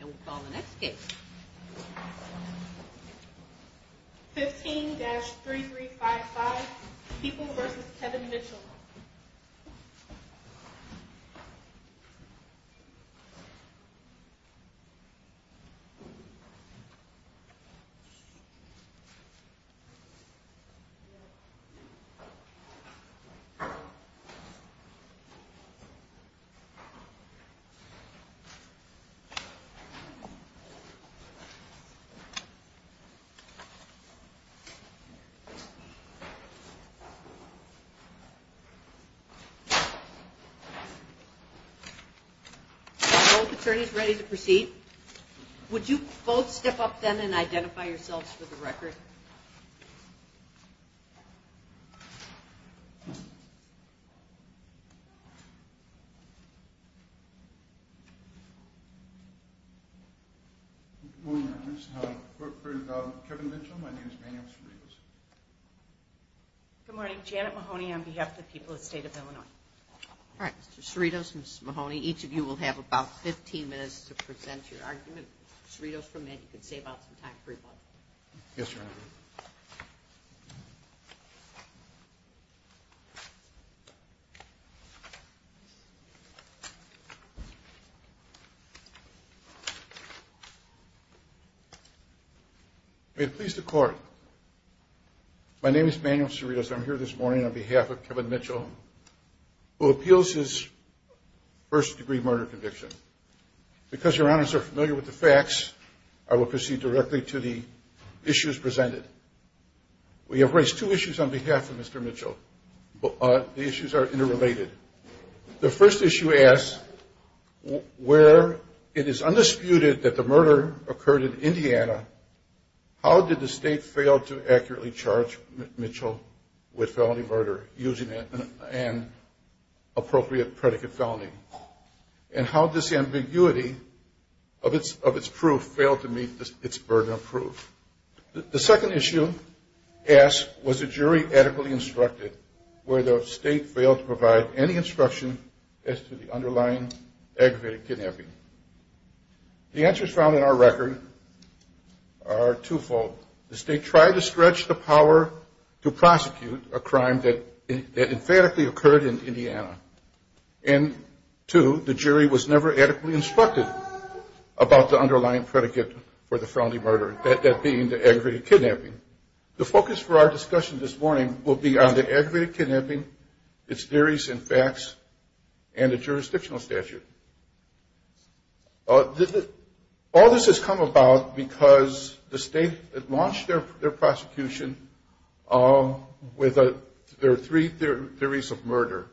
And we'll call the next case. 15-3355. People v. Kevin Mitchell. Both attorneys ready to proceed? Would you both step up then and identify yourselves for the record? Good morning. Janet Mahoney on behalf of the people of the state of Illinois. All right, Mr. Cerritos, Ms. Mahoney, each of you will have about 15 minutes to present your argument. Mr. Cerritos, for a minute, you can save out some time for your partner. Yes, Your Honor. May it please the Court, my name is Manuel Cerritos. I'm here this morning on behalf of Kevin Mitchell, who appeals his first-degree murder conviction. Because Your Honors are familiar with the facts, I will proceed directly to the issues presented. We have raised two issues on behalf of Mr. Mitchell. The issues are interrelated. The first issue asks, where it is undisputed that the murder occurred in Indiana, how did the state fail to accurately charge Mitchell with felony murder, using an appropriate predicate felony? And how did this ambiguity of its proof fail to meet its burden of proof? The second issue asks, was the jury adequately instructed, whether the state failed to provide any instruction as to the underlying aggravated kidnapping? The answers found in our record are twofold. The state tried to stretch the power to prosecute a crime that emphatically occurred in Indiana. And two, the jury was never adequately instructed about the underlying predicate for the felony murder, that being the aggravated kidnapping. The focus for our discussion this morning will be on the aggravated kidnapping, its theories and facts, and the jurisdictional statute. All this has come about because the state had launched their prosecution with their three theories of murder.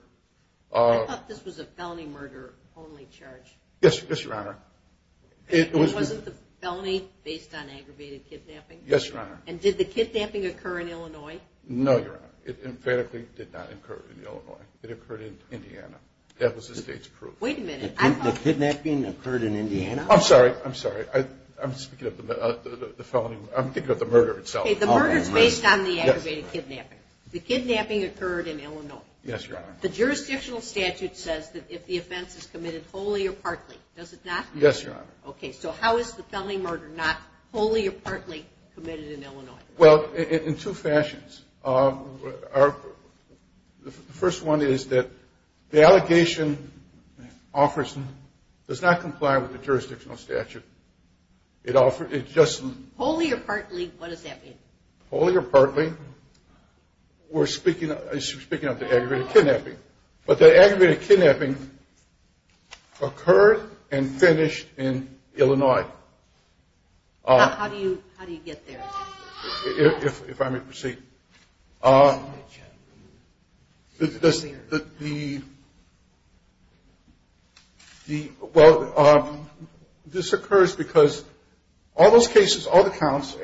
I thought this was a felony murder only charge. Yes, Your Honor. Wasn't the felony based on aggravated kidnapping? Yes, Your Honor. And did the kidnapping occur in Illinois? No, Your Honor. It emphatically did not occur in Illinois. It occurred in Indiana. That was the state's proof. Wait a minute. The kidnapping occurred in Indiana? I'm sorry. I'm sorry. I'm speaking of the murder itself. Okay, the murder is based on the aggravated kidnapping. The kidnapping occurred in Illinois. Yes, Your Honor. The jurisdictional statute says that if the offense is committed wholly or partly. Does it not? Yes, Your Honor. Okay, so how is the felony murder not wholly or partly committed in Illinois? Well, in two fashions. The first one is that the allegation does not comply with the jurisdictional statute. It just. Wholly or partly, what does that mean? Wholly or partly, we're speaking of the aggravated kidnapping. But the aggravated kidnapping occurred and finished in Illinois. How do you get there? If I may proceed. Well, this occurs because all those cases, all the counts,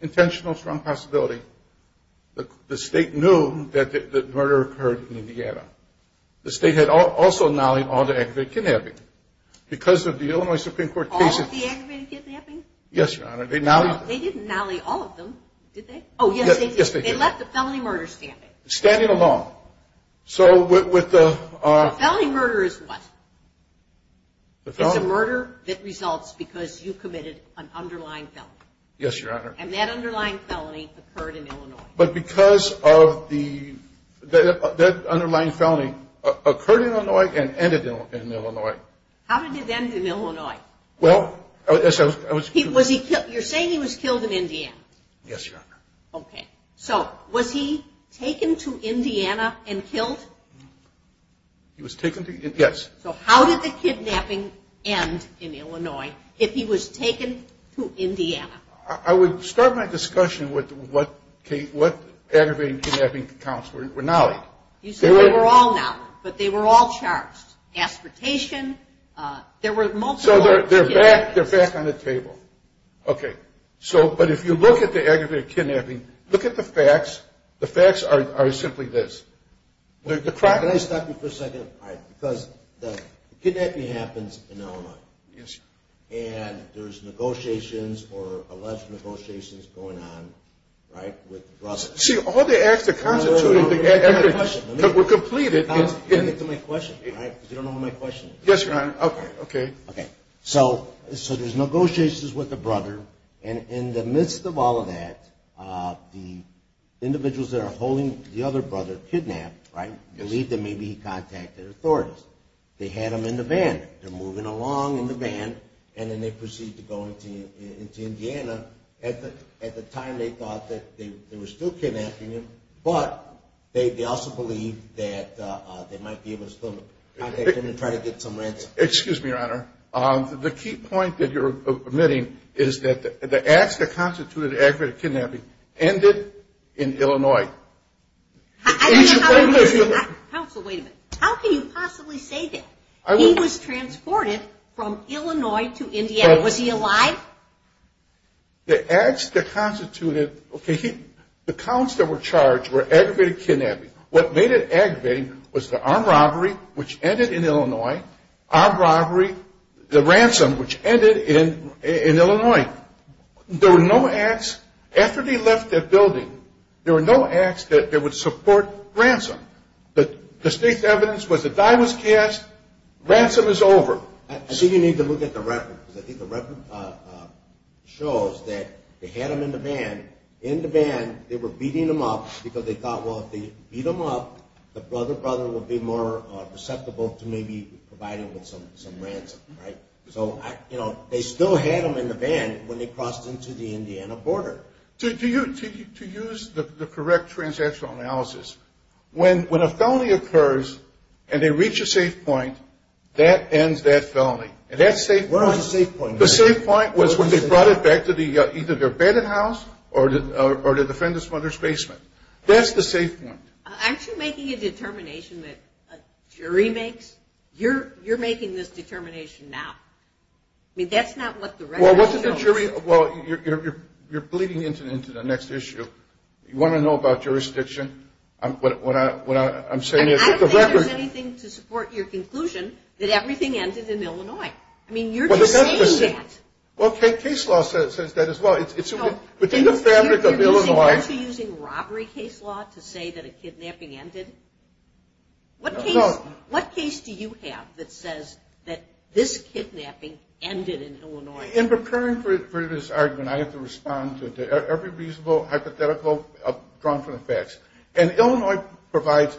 intentional strong possibility. The state knew that the murder occurred in Indiana. The state had also nollied all the aggravated kidnapping. Because of the Illinois Supreme Court cases. All of the aggravated kidnapping? Yes, Your Honor. They nollied. They didn't nollie all of them, did they? Oh, yes, they did. They left the felony murder standing. Standing alone. So with the. The felony murder is what? It's a murder that results because you committed an underlying felony. Yes, Your Honor. And that underlying felony occurred in Illinois. But because of the. That underlying felony occurred in Illinois and ended in Illinois. How did it end in Illinois? Well. You're saying he was killed in Indiana? Yes, Your Honor. Okay. So was he taken to Indiana and killed? He was taken to. Yes. So how did the kidnapping end in Illinois if he was taken to Indiana? I would start my discussion with what aggravated kidnapping counts were nollied. You said they were all nollied. But they were all charged. Aspirtation. There were multiple. So they're back on the table. Okay. So. But if you look at the aggravated kidnapping, look at the facts. The facts are simply this. Can I stop you for a second? Because the kidnapping happens in Illinois. Yes, Your Honor. And there's negotiations or alleged negotiations going on, right, with the brother. See, all the acts that constituted the aggravated. No, no, no. Let me ask you a question. We're completed. I'll get to my question, right, because you don't know my question. Yes, Your Honor. Okay. Okay. Okay. So there's negotiations with the brother, and in the midst of all of that, the individuals that are holding the other brother kidnapped, right, believe that maybe he contacted authorities. They had him in the van. They're moving along in the van, and then they proceed to go into Indiana. At the time, they thought that they were still kidnapping him, but they also believed that they might be able to still contact him and try to get some ransom. Excuse me, Your Honor. The key point that you're omitting is that the acts that constituted the aggravated kidnapping ended in Illinois. Counsel, wait a minute. How can you possibly say that? He was transported from Illinois to Indiana. Was he alive? The acts that constituted, okay, the counts that were charged were aggravated kidnapping. What made it aggravating was the armed robbery, which ended in Illinois. Armed robbery, the ransom, which ended in Illinois. There were no acts. After they left their building, there were no acts that would support ransom. The distinct evidence was the die was cast. Ransom is over. I think you need to look at the record, because I think the record shows that they had him in the van. In the van, they were beating him up because they thought, well, if they beat him up, the other brother would be more susceptible to maybe providing him with some ransom, right? So, you know, they still had him in the van when they crossed into the Indiana border. To use the correct transactional analysis, when a felony occurs and they reach a safe point, that ends that felony. And that safe point. What was the safe point? The safe point was when they brought it back to either their bedding house or the defendant's mother's basement. That's the safe point. Aren't you making a determination that a jury makes? You're making this determination now. I mean, that's not what the record shows. Well, you're bleeding into the next issue. You want to know about jurisdiction? I don't think there's anything to support your conclusion that everything ended in Illinois. I mean, you're just saying that. Well, case law says that as well. It's within the fabric of Illinois. Are you using robbery case law to say that a kidnapping ended? No. What case do you have that says that this kidnapping ended in Illinois? In preparing for this argument, I have to respond to every reasonable hypothetical drawn from the facts. And Illinois provides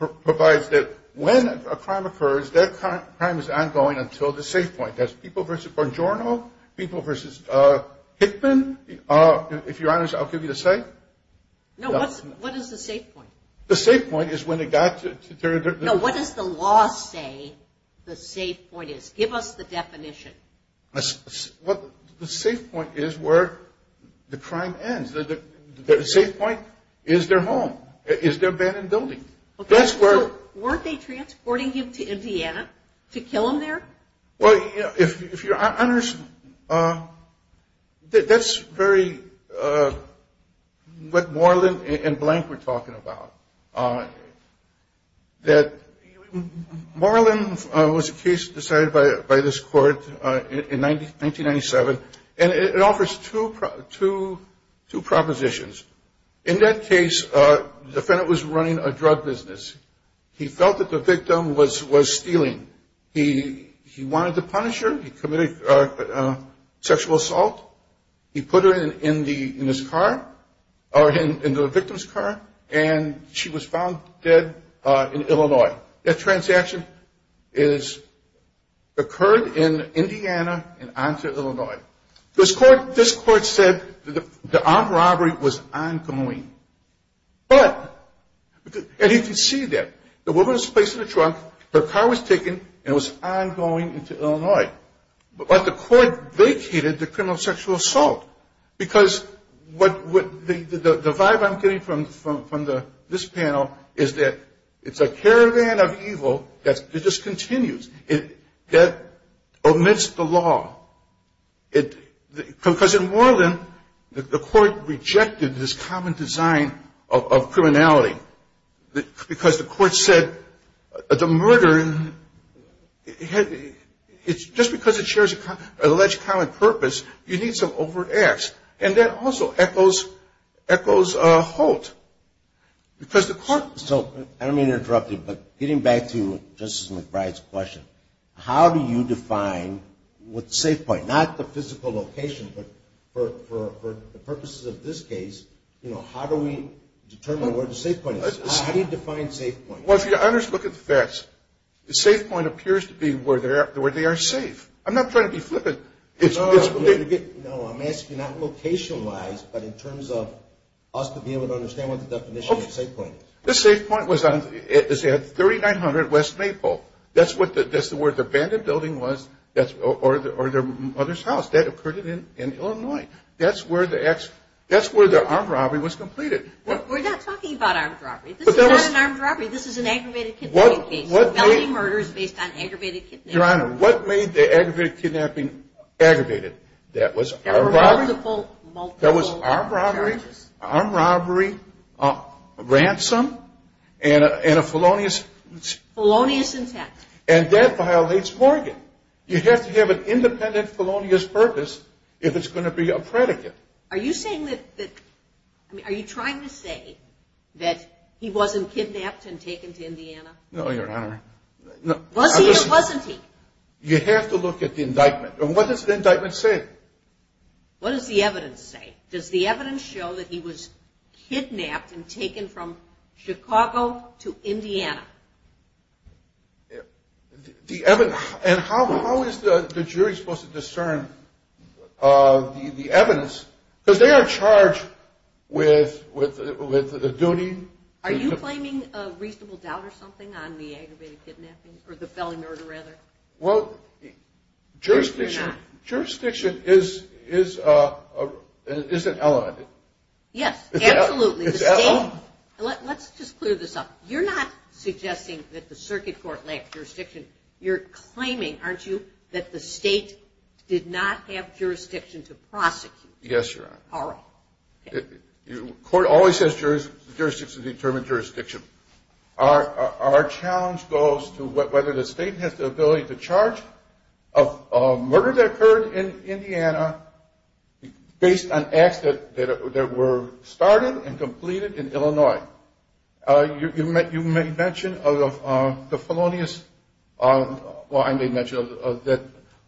that when a crime occurs, that crime is ongoing until the safe point. That's people versus Bongiorno, people versus Hickman. If you're honest, I'll give you the safe. No. What is the safe point? The safe point is when it got to. No. What does the law say the safe point is? Give us the definition. The safe point is where the crime ends. The safe point is their home, is their abandoned building. Okay. So weren't they transporting him to Indiana to kill him there? Well, if you're honest, that's very what Moreland and Blank were talking about. Moreland was a case decided by this court in 1997, and it offers two propositions. In that case, the defendant was running a drug business. He felt that the victim was stealing. He wanted to punish her. He committed sexual assault. He put her in the victim's car, and she was found dead in Illinois. That transaction occurred in Indiana and on to Illinois. This court said the armed robbery was ongoing. But, and you can see that. The woman was placed in a trunk. Her car was taken, and it was ongoing into Illinois. But the court vacated the criminal sexual assault because the vibe I'm getting from this panel is that it's a caravan of evil that just continues. It omits the law. Because in Moreland, the court rejected this common design of criminality because the court said the murder, just because it shares an alleged common purpose, you need some overt acts. And that also echoes Holt. So, I don't mean to interrupt you, but getting back to Justice McBride's question, how do you define what the safe point, not the physical location, but for the purposes of this case, how do we determine where the safe point is? How do you define safe point? Well, if you look at the facts, the safe point appears to be where they are safe. I'm not trying to be flippant. No, I'm asking that location-wise, but in terms of us being able to understand what the definition of safe point is. The safe point was at 3900 West Maple. That's where the abandoned building was, or their mother's house. That occurred in Illinois. That's where the armed robbery was completed. We're not talking about armed robbery. This is not an armed robbery. This is an aggravated kidnapping case. What made the aggravated kidnapping aggravated? That was armed robbery, ransom, and a felonious intent. And that violates Morgan. You have to have an independent felonious purpose if it's going to be a predicate. Are you trying to say that he wasn't kidnapped and taken to Indiana? No, Your Honor. Was he or wasn't he? You have to look at the indictment. And what does the indictment say? What does the evidence say? Does the evidence show that he was kidnapped and taken from Chicago to Indiana? And how is the jury supposed to discern the evidence? Because they are charged with a duty. Are you claiming a reasonable doubt or something on the aggravated kidnapping, or the felony murder, rather? Well, jurisdiction is an element. Yes, absolutely. Let's just clear this up. You're not suggesting that the circuit court lacked jurisdiction. You're claiming, aren't you, that the state did not have jurisdiction to prosecute? Yes, Your Honor. All right. The court always says jurisdiction determines jurisdiction. Our challenge goes to whether the state has the ability to charge a murder that occurred in Indiana based on acts that were started and completed in Illinois. Now, you may mention of the felonious, well, I may mention of that.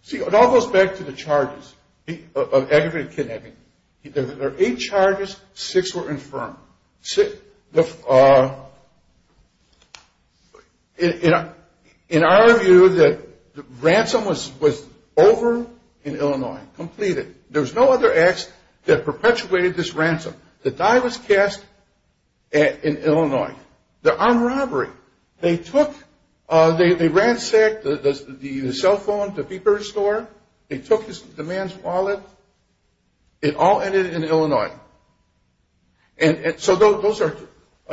See, it all goes back to the charges of aggravated kidnapping. There are eight charges. Six were infirmed. In our view, the ransom was over in Illinois, completed. There was no other acts that perpetuated this ransom. The die was cast in Illinois. The armed robbery, they ransacked the cell phone, the paper store. They took the man's wallet. It all ended in Illinois. So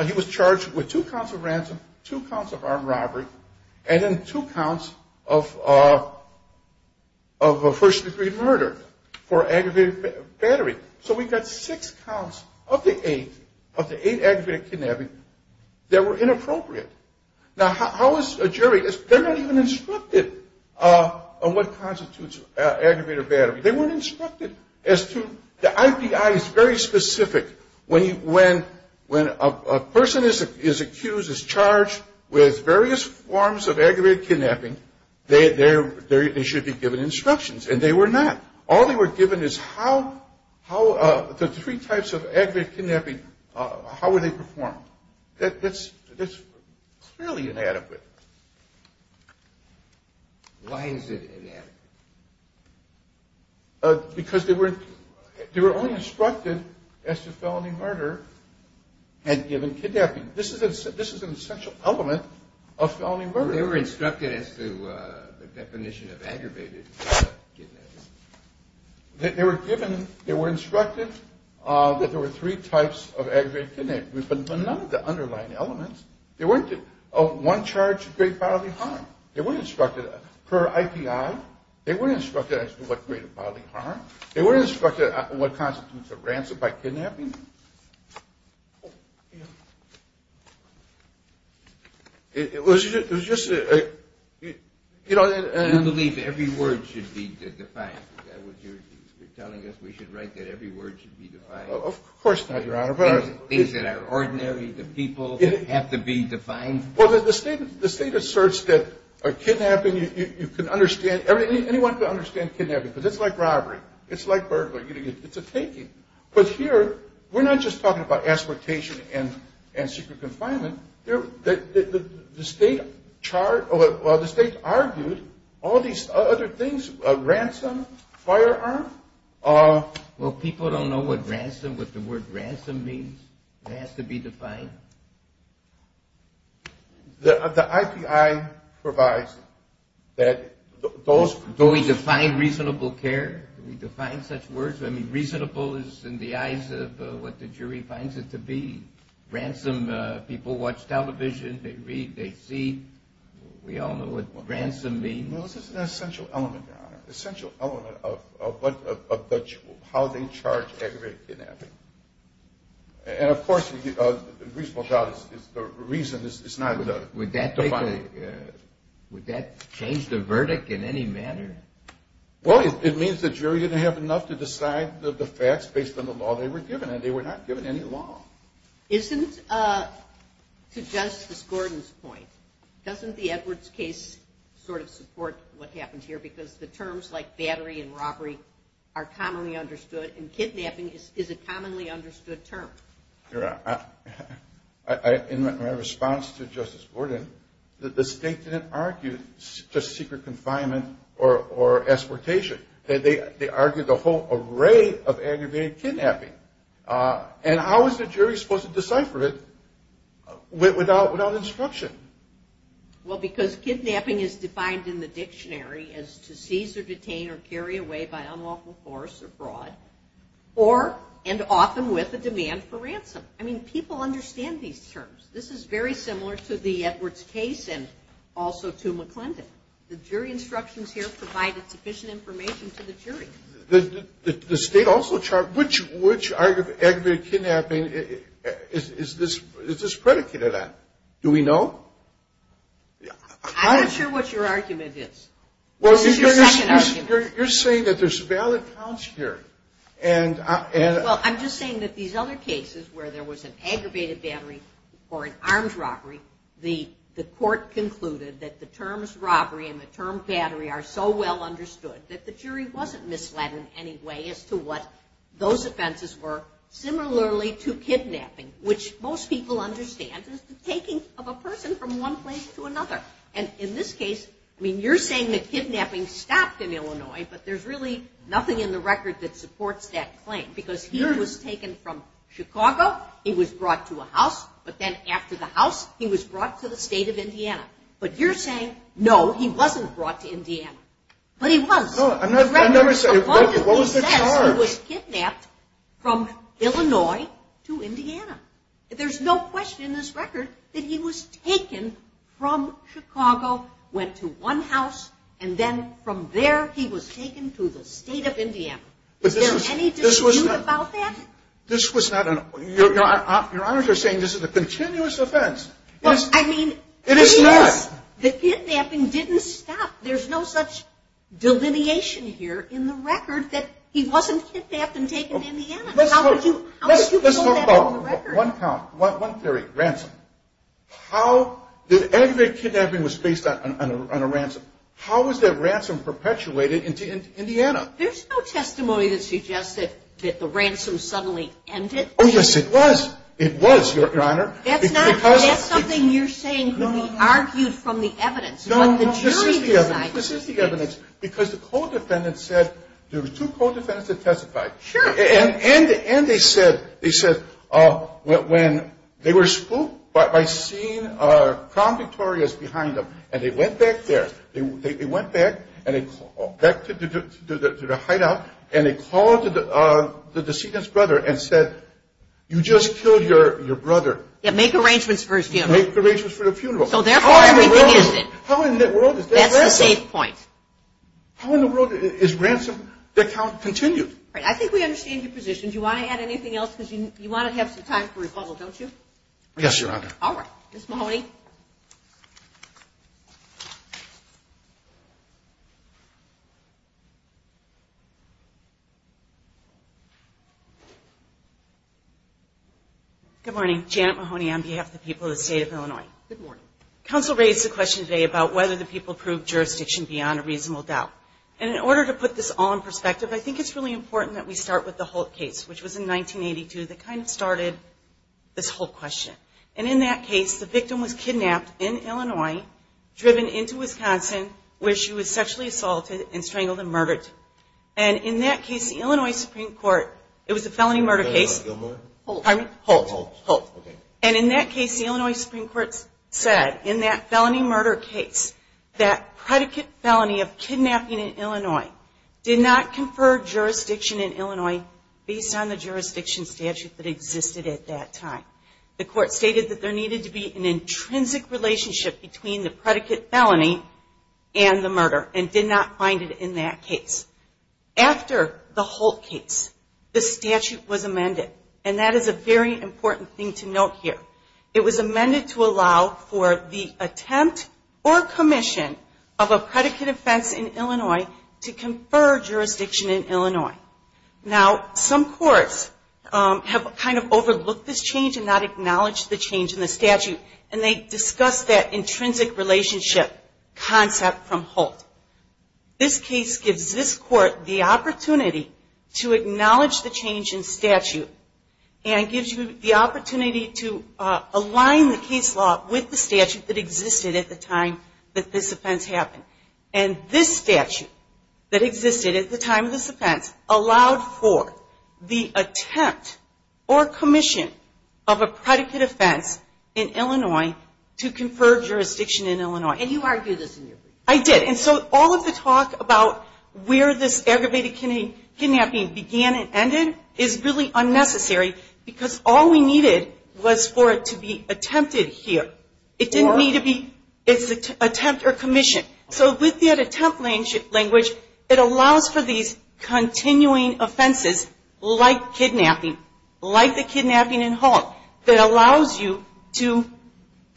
he was charged with two counts of ransom, two counts of armed robbery, and then two counts of first-degree murder for aggravated battery. So we've got six counts of the eight aggravated kidnapping that were inappropriate. Now, how is a jury? They're not even instructed on what constitutes aggravated battery. They weren't instructed as to the IPI is very specific. When a person is accused, is charged with various forms of aggravated kidnapping, they should be given instructions, and they were not. All they were given is how the three types of aggravated kidnapping, how were they performed. That's clearly inadequate. Why is it inadequate? Because they were only instructed as to felony murder had given kidnapping. This is an essential element of felony murder. They were instructed as to the definition of aggravated kidnapping. They were instructed that there were three types of aggravated kidnapping, but none of the underlying elements. They weren't one charge of great bodily harm. They weren't instructed per IPI. They weren't instructed as to what great bodily harm. They weren't instructed on what constitutes a ransom by kidnapping. It was just a, you know. You believe every word should be defined. Is that what you're telling us? We should write that every word should be defined? Of course not, Your Honor. Things that are ordinary, the people have to be defined? Well, the state asserts that a kidnapping, you can understand, anyone can understand kidnapping, but it's like robbery. It's like burglary. It's a taking. But here, we're not just talking about exploitation and secret confinement. The state argued all these other things, ransom, firearm. Well, people don't know what ransom, what the word ransom means. It has to be defined. The IPI provides that those. Do we define reasonable care? Do we define such words? I mean, reasonable is in the eyes of what the jury finds it to be. Ransom, people watch television, they read, they see. We all know what ransom means. Well, this is an essential element, Your Honor, essential element of how they charge aggravated kidnapping. And, of course, reasonable doubt is the reason it's not defined. Would that change the verdict in any manner? Well, it means the jury didn't have enough to decide the facts based on the law they were given, and they were not given any law. Isn't, to Justice Gordon's point, doesn't the Edwards case sort of support what happened here because the terms like battery and robbery are commonly understood, and kidnapping is a commonly understood term? Your Honor, in my response to Justice Gordon, the state didn't argue just secret confinement or exportation. They argued the whole array of aggravated kidnapping. And how is the jury supposed to decipher it without instruction? Well, because kidnapping is defined in the dictionary as to seize or detain or carry away by unlawful force abroad, or, and often with a demand for ransom. I mean, people understand these terms. This is very similar to the Edwards case and also to McClendon. The jury instructions here provide sufficient information to the jury. The state also charged, which aggravated kidnapping is this predicated on? Do we know? I'm not sure what your argument is. This is your second argument. You're saying that there's valid counts here. Well, I'm just saying that these other cases where there was an aggravated battery or an arms robbery, the court concluded that the terms robbery and the term battery are so well understood that the jury wasn't misled in any way as to what those offenses were, similarly to kidnapping, which most people understand is the taking of a person from one place to another. And in this case, I mean, you're saying that kidnapping stopped in Illinois, but there's really nothing in the record that supports that claim. Because he was taken from Chicago. He was brought to a house, but then after the house, he was brought to the state of Indiana. But you're saying, no, he wasn't brought to Indiana. But he was. I never said that. What was the charge? He was kidnapped from Illinois to Indiana. There's no question in this record that he was taken from Chicago, went to one house, and then from there he was taken to the state of Indiana. Is there any dispute about that? This was not an – your honors are saying this is a continuous offense. It is not. The kidnapping didn't stop. There's no such delineation here in the record that he wasn't kidnapped and taken to Indiana. Let's talk about one count, one theory, ransom. How did aggravated kidnapping was based on a ransom? How was that ransom perpetuated in Indiana? There's no testimony that suggests that the ransom suddenly ended. Oh, yes, it was. It was, your honor. That's something you're saying could be argued from the evidence. No, this is the evidence. This is the evidence. Because the co-defendant said there were two co-defendants that testified. Sure. And they said when they were spooked by seeing Crown Victorious behind them, and they went back there. They went back to the hideout, and they called the decedent's brother and said, you just killed your brother. Yeah, make arrangements for his funeral. Make arrangements for the funeral. So, therefore, everything ended. How in the world is that possible? That's the safe point. How in the world is ransom – that count continued? I think we understand your position. Do you want to add anything else? Because you want to have some time for rebuttal, don't you? Yes, your honor. All right. Ms. Mahoney. Good morning. Janet Mahoney on behalf of the people of the state of Illinois. Good morning. Counsel raised the question today about whether the people proved jurisdiction beyond a reasonable doubt. And in order to put this all in perspective, I think it's really important that we start with the Holt case, which was in 1982 that kind of started this whole question. And in that case, the victim was kidnapped in Illinois, driven into Wisconsin, where she was sexually assaulted and strangled and murdered. And in that case, the Illinois Supreme Court – it was a felony murder case. Holt. Holt. Holt. And in that case, the Illinois Supreme Court said in that felony murder case, that predicate felony of kidnapping in Illinois did not confer jurisdiction in Illinois based on the jurisdiction statute that existed at that time. The court stated that there needed to be an intrinsic relationship between the predicate felony and the murder and did not find it in that case. After the Holt case, the statute was amended. And that is a very important thing to note here. It was amended to allow for the attempt or commission of a predicate offense in Illinois to confer jurisdiction in Illinois. Now, some courts have kind of overlooked this change and not acknowledged the change in the statute. And they discuss that intrinsic relationship concept from Holt. This case gives this court the opportunity to acknowledge the change in statute and gives you the opportunity to align the case law with the statute that existed at the time that this offense happened. And this statute that existed at the time of this offense allowed for the attempt or commission of a predicate offense in Illinois to confer jurisdiction in Illinois. And you argued this in your brief. I did. And so all of the talk about where this aggravated kidnapping began and ended is really unnecessary because all we needed was for it to be attempted here. It didn't need to be attempt or commission. So with that attempt language, it allows for these continuing offenses like kidnapping, like the kidnapping in Holt, that allows you to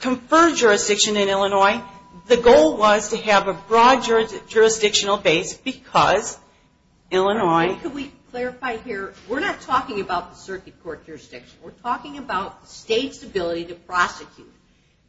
confer jurisdiction in Illinois. The goal was to have a broad jurisdictional base because Illinois. Can we clarify here? We're not talking about the circuit court jurisdiction. We're talking about the state's ability to prosecute.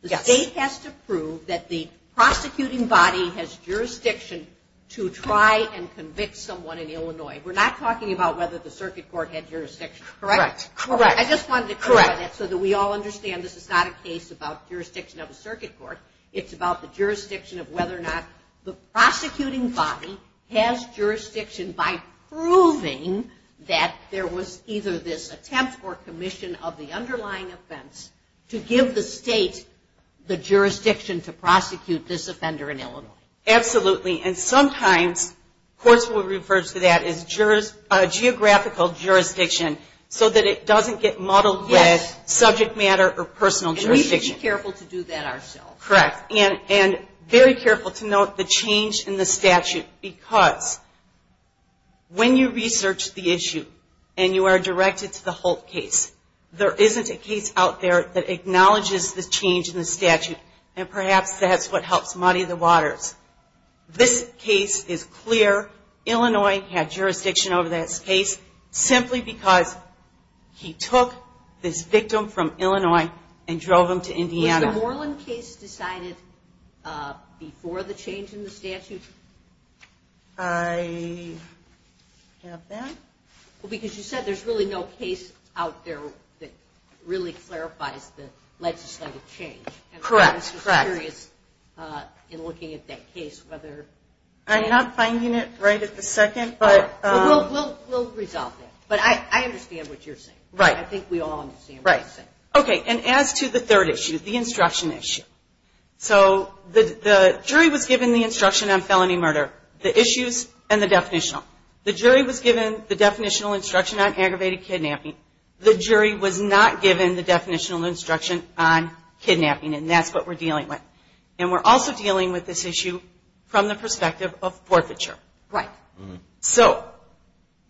The state has to prove that the prosecuting body has jurisdiction to try and convict someone in Illinois. We're not talking about whether the circuit court had jurisdiction. Correct? Correct. I just wanted to clarify that so that we all understand this is not a case about jurisdiction of a circuit court. It's about the jurisdiction of whether or not the prosecuting body has jurisdiction by proving that there was either this attempt or commission of the underlying offense to give the state the jurisdiction to prosecute this offender in Illinois. Absolutely. And sometimes courts will refer to that as geographical jurisdiction so that it doesn't get muddled with subject matter or personal jurisdiction. We should be careful to do that ourselves. Correct. And very careful to note the change in the statute because when you research the issue and you are directed to the Holt case, there isn't a case out there that acknowledges the change in the statute, and perhaps that's what helps muddy the waters. This case is clear. Illinois had jurisdiction over this case simply because he took this victim from Illinois and drove them to Indiana. Was the Moreland case decided before the change in the statute? I have that. Well, because you said there's really no case out there that really clarifies the legislative change. Correct. And I was just curious in looking at that case whether... I'm not finding it right at the second, but... We'll resolve that. Right. I think we all understand what you're saying. Okay. And as to the third issue, the instruction issue, so the jury was given the instruction on felony murder, the issues, and the definitional. The jury was given the definitional instruction on aggravated kidnapping. The jury was not given the definitional instruction on kidnapping, and that's what we're dealing with. And we're also dealing with this issue from the perspective of forfeiture. Right. So...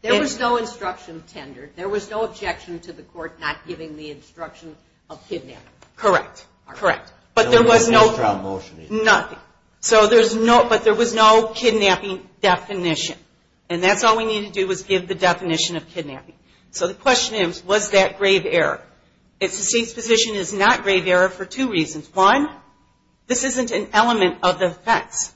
There was no instruction tender. There was no objection to the court not giving the instruction of kidnapping. Correct. Correct. But there was no... No extra motion either. Nothing. So there's no... But there was no kidnapping definition, and that's all we needed to do was give the definition of kidnapping. So the question is, was that grave error? The state's position is not grave error for two reasons. One, this isn't an element of the offense.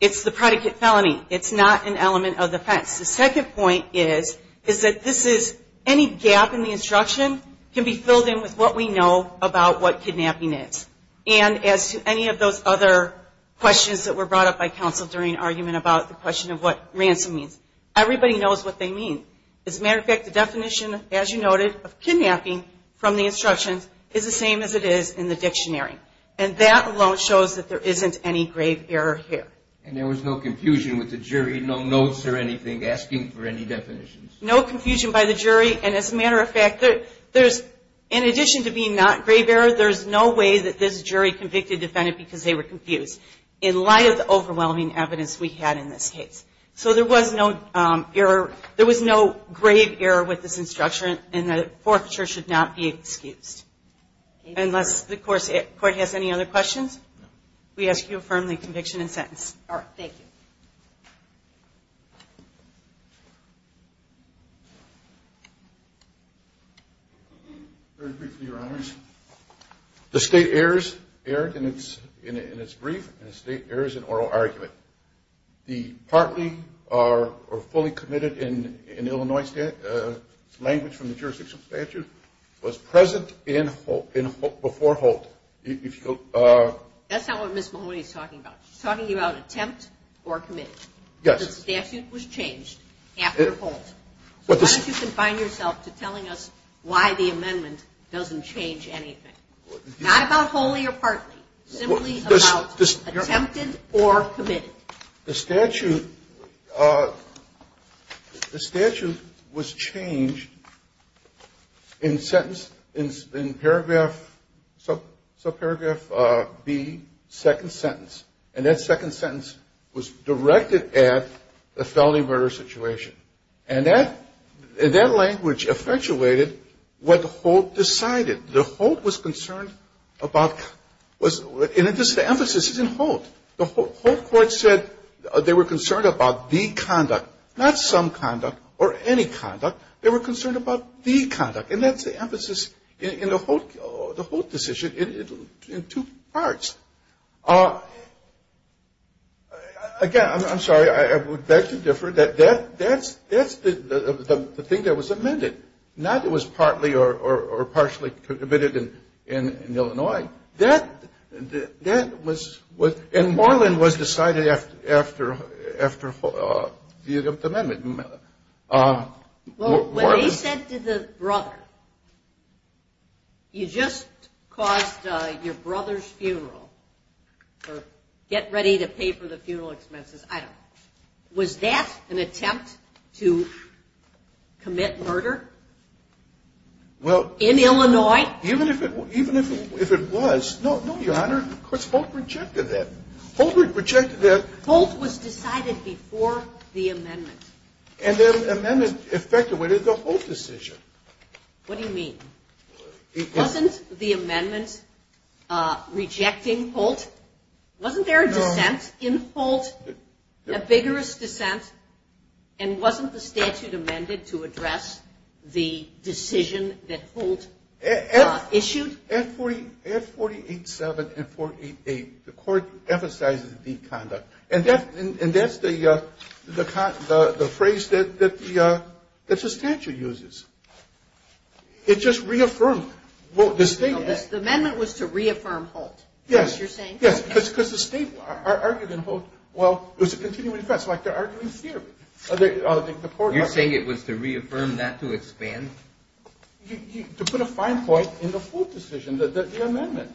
It's the predicate felony. It's not an element of the offense. The second point is that this is any gap in the instruction can be filled in with what we know about what kidnapping is. And as to any of those other questions that were brought up by counsel during argument about the question of what ransom means, everybody knows what they mean. As a matter of fact, the definition, as you noted, of kidnapping from the instructions is the same as it is in the dictionary. And that alone shows that there isn't any grave error here. And there was no confusion with the jury, no notes or anything, asking for any definitions? No confusion by the jury. And as a matter of fact, in addition to being not grave error, there's no way that this jury convicted the defendant because they were confused in light of the overwhelming evidence we had in this case. So there was no grave error with this instruction, and a forfeiture should not be excused. Unless the court has any other questions? No. We ask you to affirm the conviction and sentence. All right. Thank you. Very briefly, Your Honors. The state errors erred in its brief, and the state errors in oral argument. The partly or fully committed in Illinois language from the jurisdictional statute was present before Holt. That's not what Ms. Mahoney is talking about. She's talking about attempt or committed. Yes. The statute was changed after Holt. So why don't you confine yourself to telling us why the amendment doesn't change anything? Not about wholly or partly. Simply about attempted or committed. Well, the statute was changed in paragraph B, second sentence. And that second sentence was directed at the felony murder situation. And that language effectuated what Holt decided. The Holt was concerned about was the emphasis is in Holt. The Holt court said they were concerned about the conduct. Not some conduct or any conduct. They were concerned about the conduct. And that's the emphasis in the Holt decision in two parts. Again, I'm sorry. I would beg to differ. That's the thing that was amended. Not that it was partly or partially committed in Illinois. That was with ñ and Moreland was decided after the amendment. Well, when they said to the brother, you just caused your brother's funeral or get ready to pay for the funeral expenses, I don't know, was that an attempt to commit murder in Illinois? Even if it was. No, Your Honor, because Holt rejected that. Holt rejected that. Holt was decided before the amendment. And the amendment effectuated the Holt decision. What do you mean? Wasn't the amendment rejecting Holt? Wasn't there a dissent in Holt, a vigorous dissent, and wasn't the statute amended to address the decision that Holt issued? At 48.7 and 48.8, the court emphasizes the conduct. And that's the phrase that the statute uses. It just reaffirmed the statement. The amendment was to reaffirm Holt. Yes. Yes, because the state argued in Holt, well, it was a continuing defense. It's like they're arguing theory. You're saying it was to reaffirm, not to expand? To put a fine point in the Holt decision, the amendment,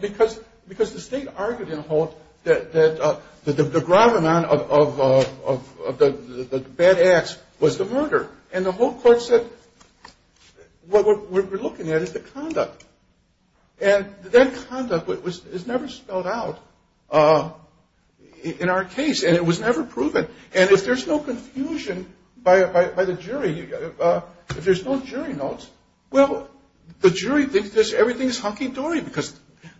because the state argued in Holt that the gravamen of the bad acts was the murder. And the Holt court said what we're looking at is the conduct. And that conduct is never spelled out in our case, and it was never proven. And if there's no confusion by the jury, if there's no jury notes, well, the jury thinks everything is hunky-dory because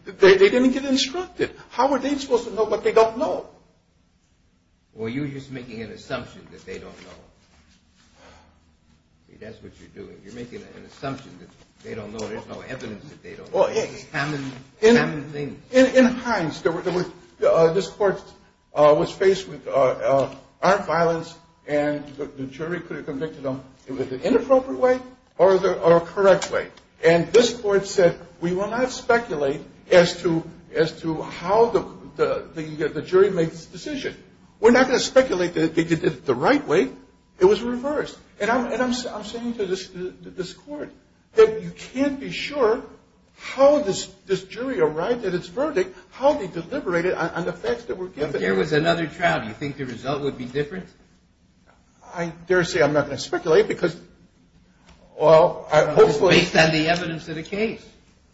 they didn't get instructed. How are they supposed to know what they don't know? Well, you're just making an assumption that they don't know. See, that's what you're doing. You're making an assumption that they don't know. There's no evidence that they don't know. It's common things. In Hines, this court was faced with armed violence, and the jury could have convicted them in an inappropriate way or a correct way. And this court said we will not speculate as to how the jury makes the decision. We're not going to speculate that they did it the right way. It was reversed. And I'm saying to this court that you can't be sure how this jury arrived at its verdict, how they deliberated on the facts that were given. But there was another trial. Do you think the result would be different? I dare say I'm not going to speculate because, well, I hope so. Based on the evidence of the case.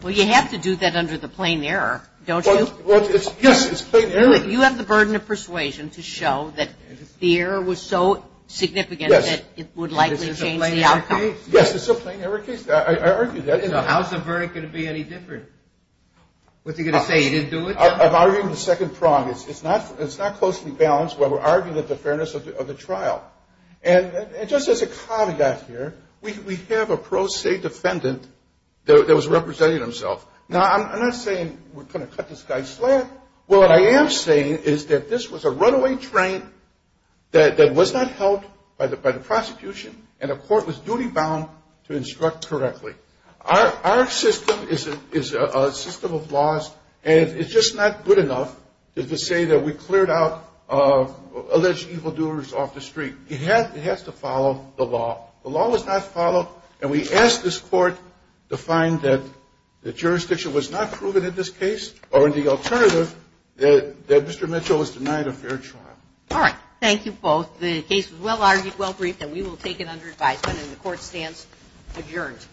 Well, you have to do that under the plain error, don't you? Yes, it's plain error. You have the burden of persuasion to show that the error was so significant that it would likely change the outcome. Yes, it's a plain error case. I argue that. So how's the verdict going to be any different? What's he going to say, he didn't do it? I'm arguing the second prong. It's not closely balanced. What we're arguing is the fairness of the trial. And just as a caveat here, we have a pro se defendant that was representing himself. Now, I'm not saying we're going to cut this guy flat. Well, what I am saying is that this was a runaway train that was not helped by the prosecution and the court was duty bound to instruct correctly. Our system is a system of laws, and it's just not good enough to say that we cleared out alleged evildoers off the street. It has to follow the law. The law was not followed, and we asked this court to find that the jurisdiction was not proven in this case or in the alternative that Mr. Mitchell was denied a fair trial. All right. Thank you both. The case was well argued, well briefed, and we will take it under advisement. And the court stands adjourned.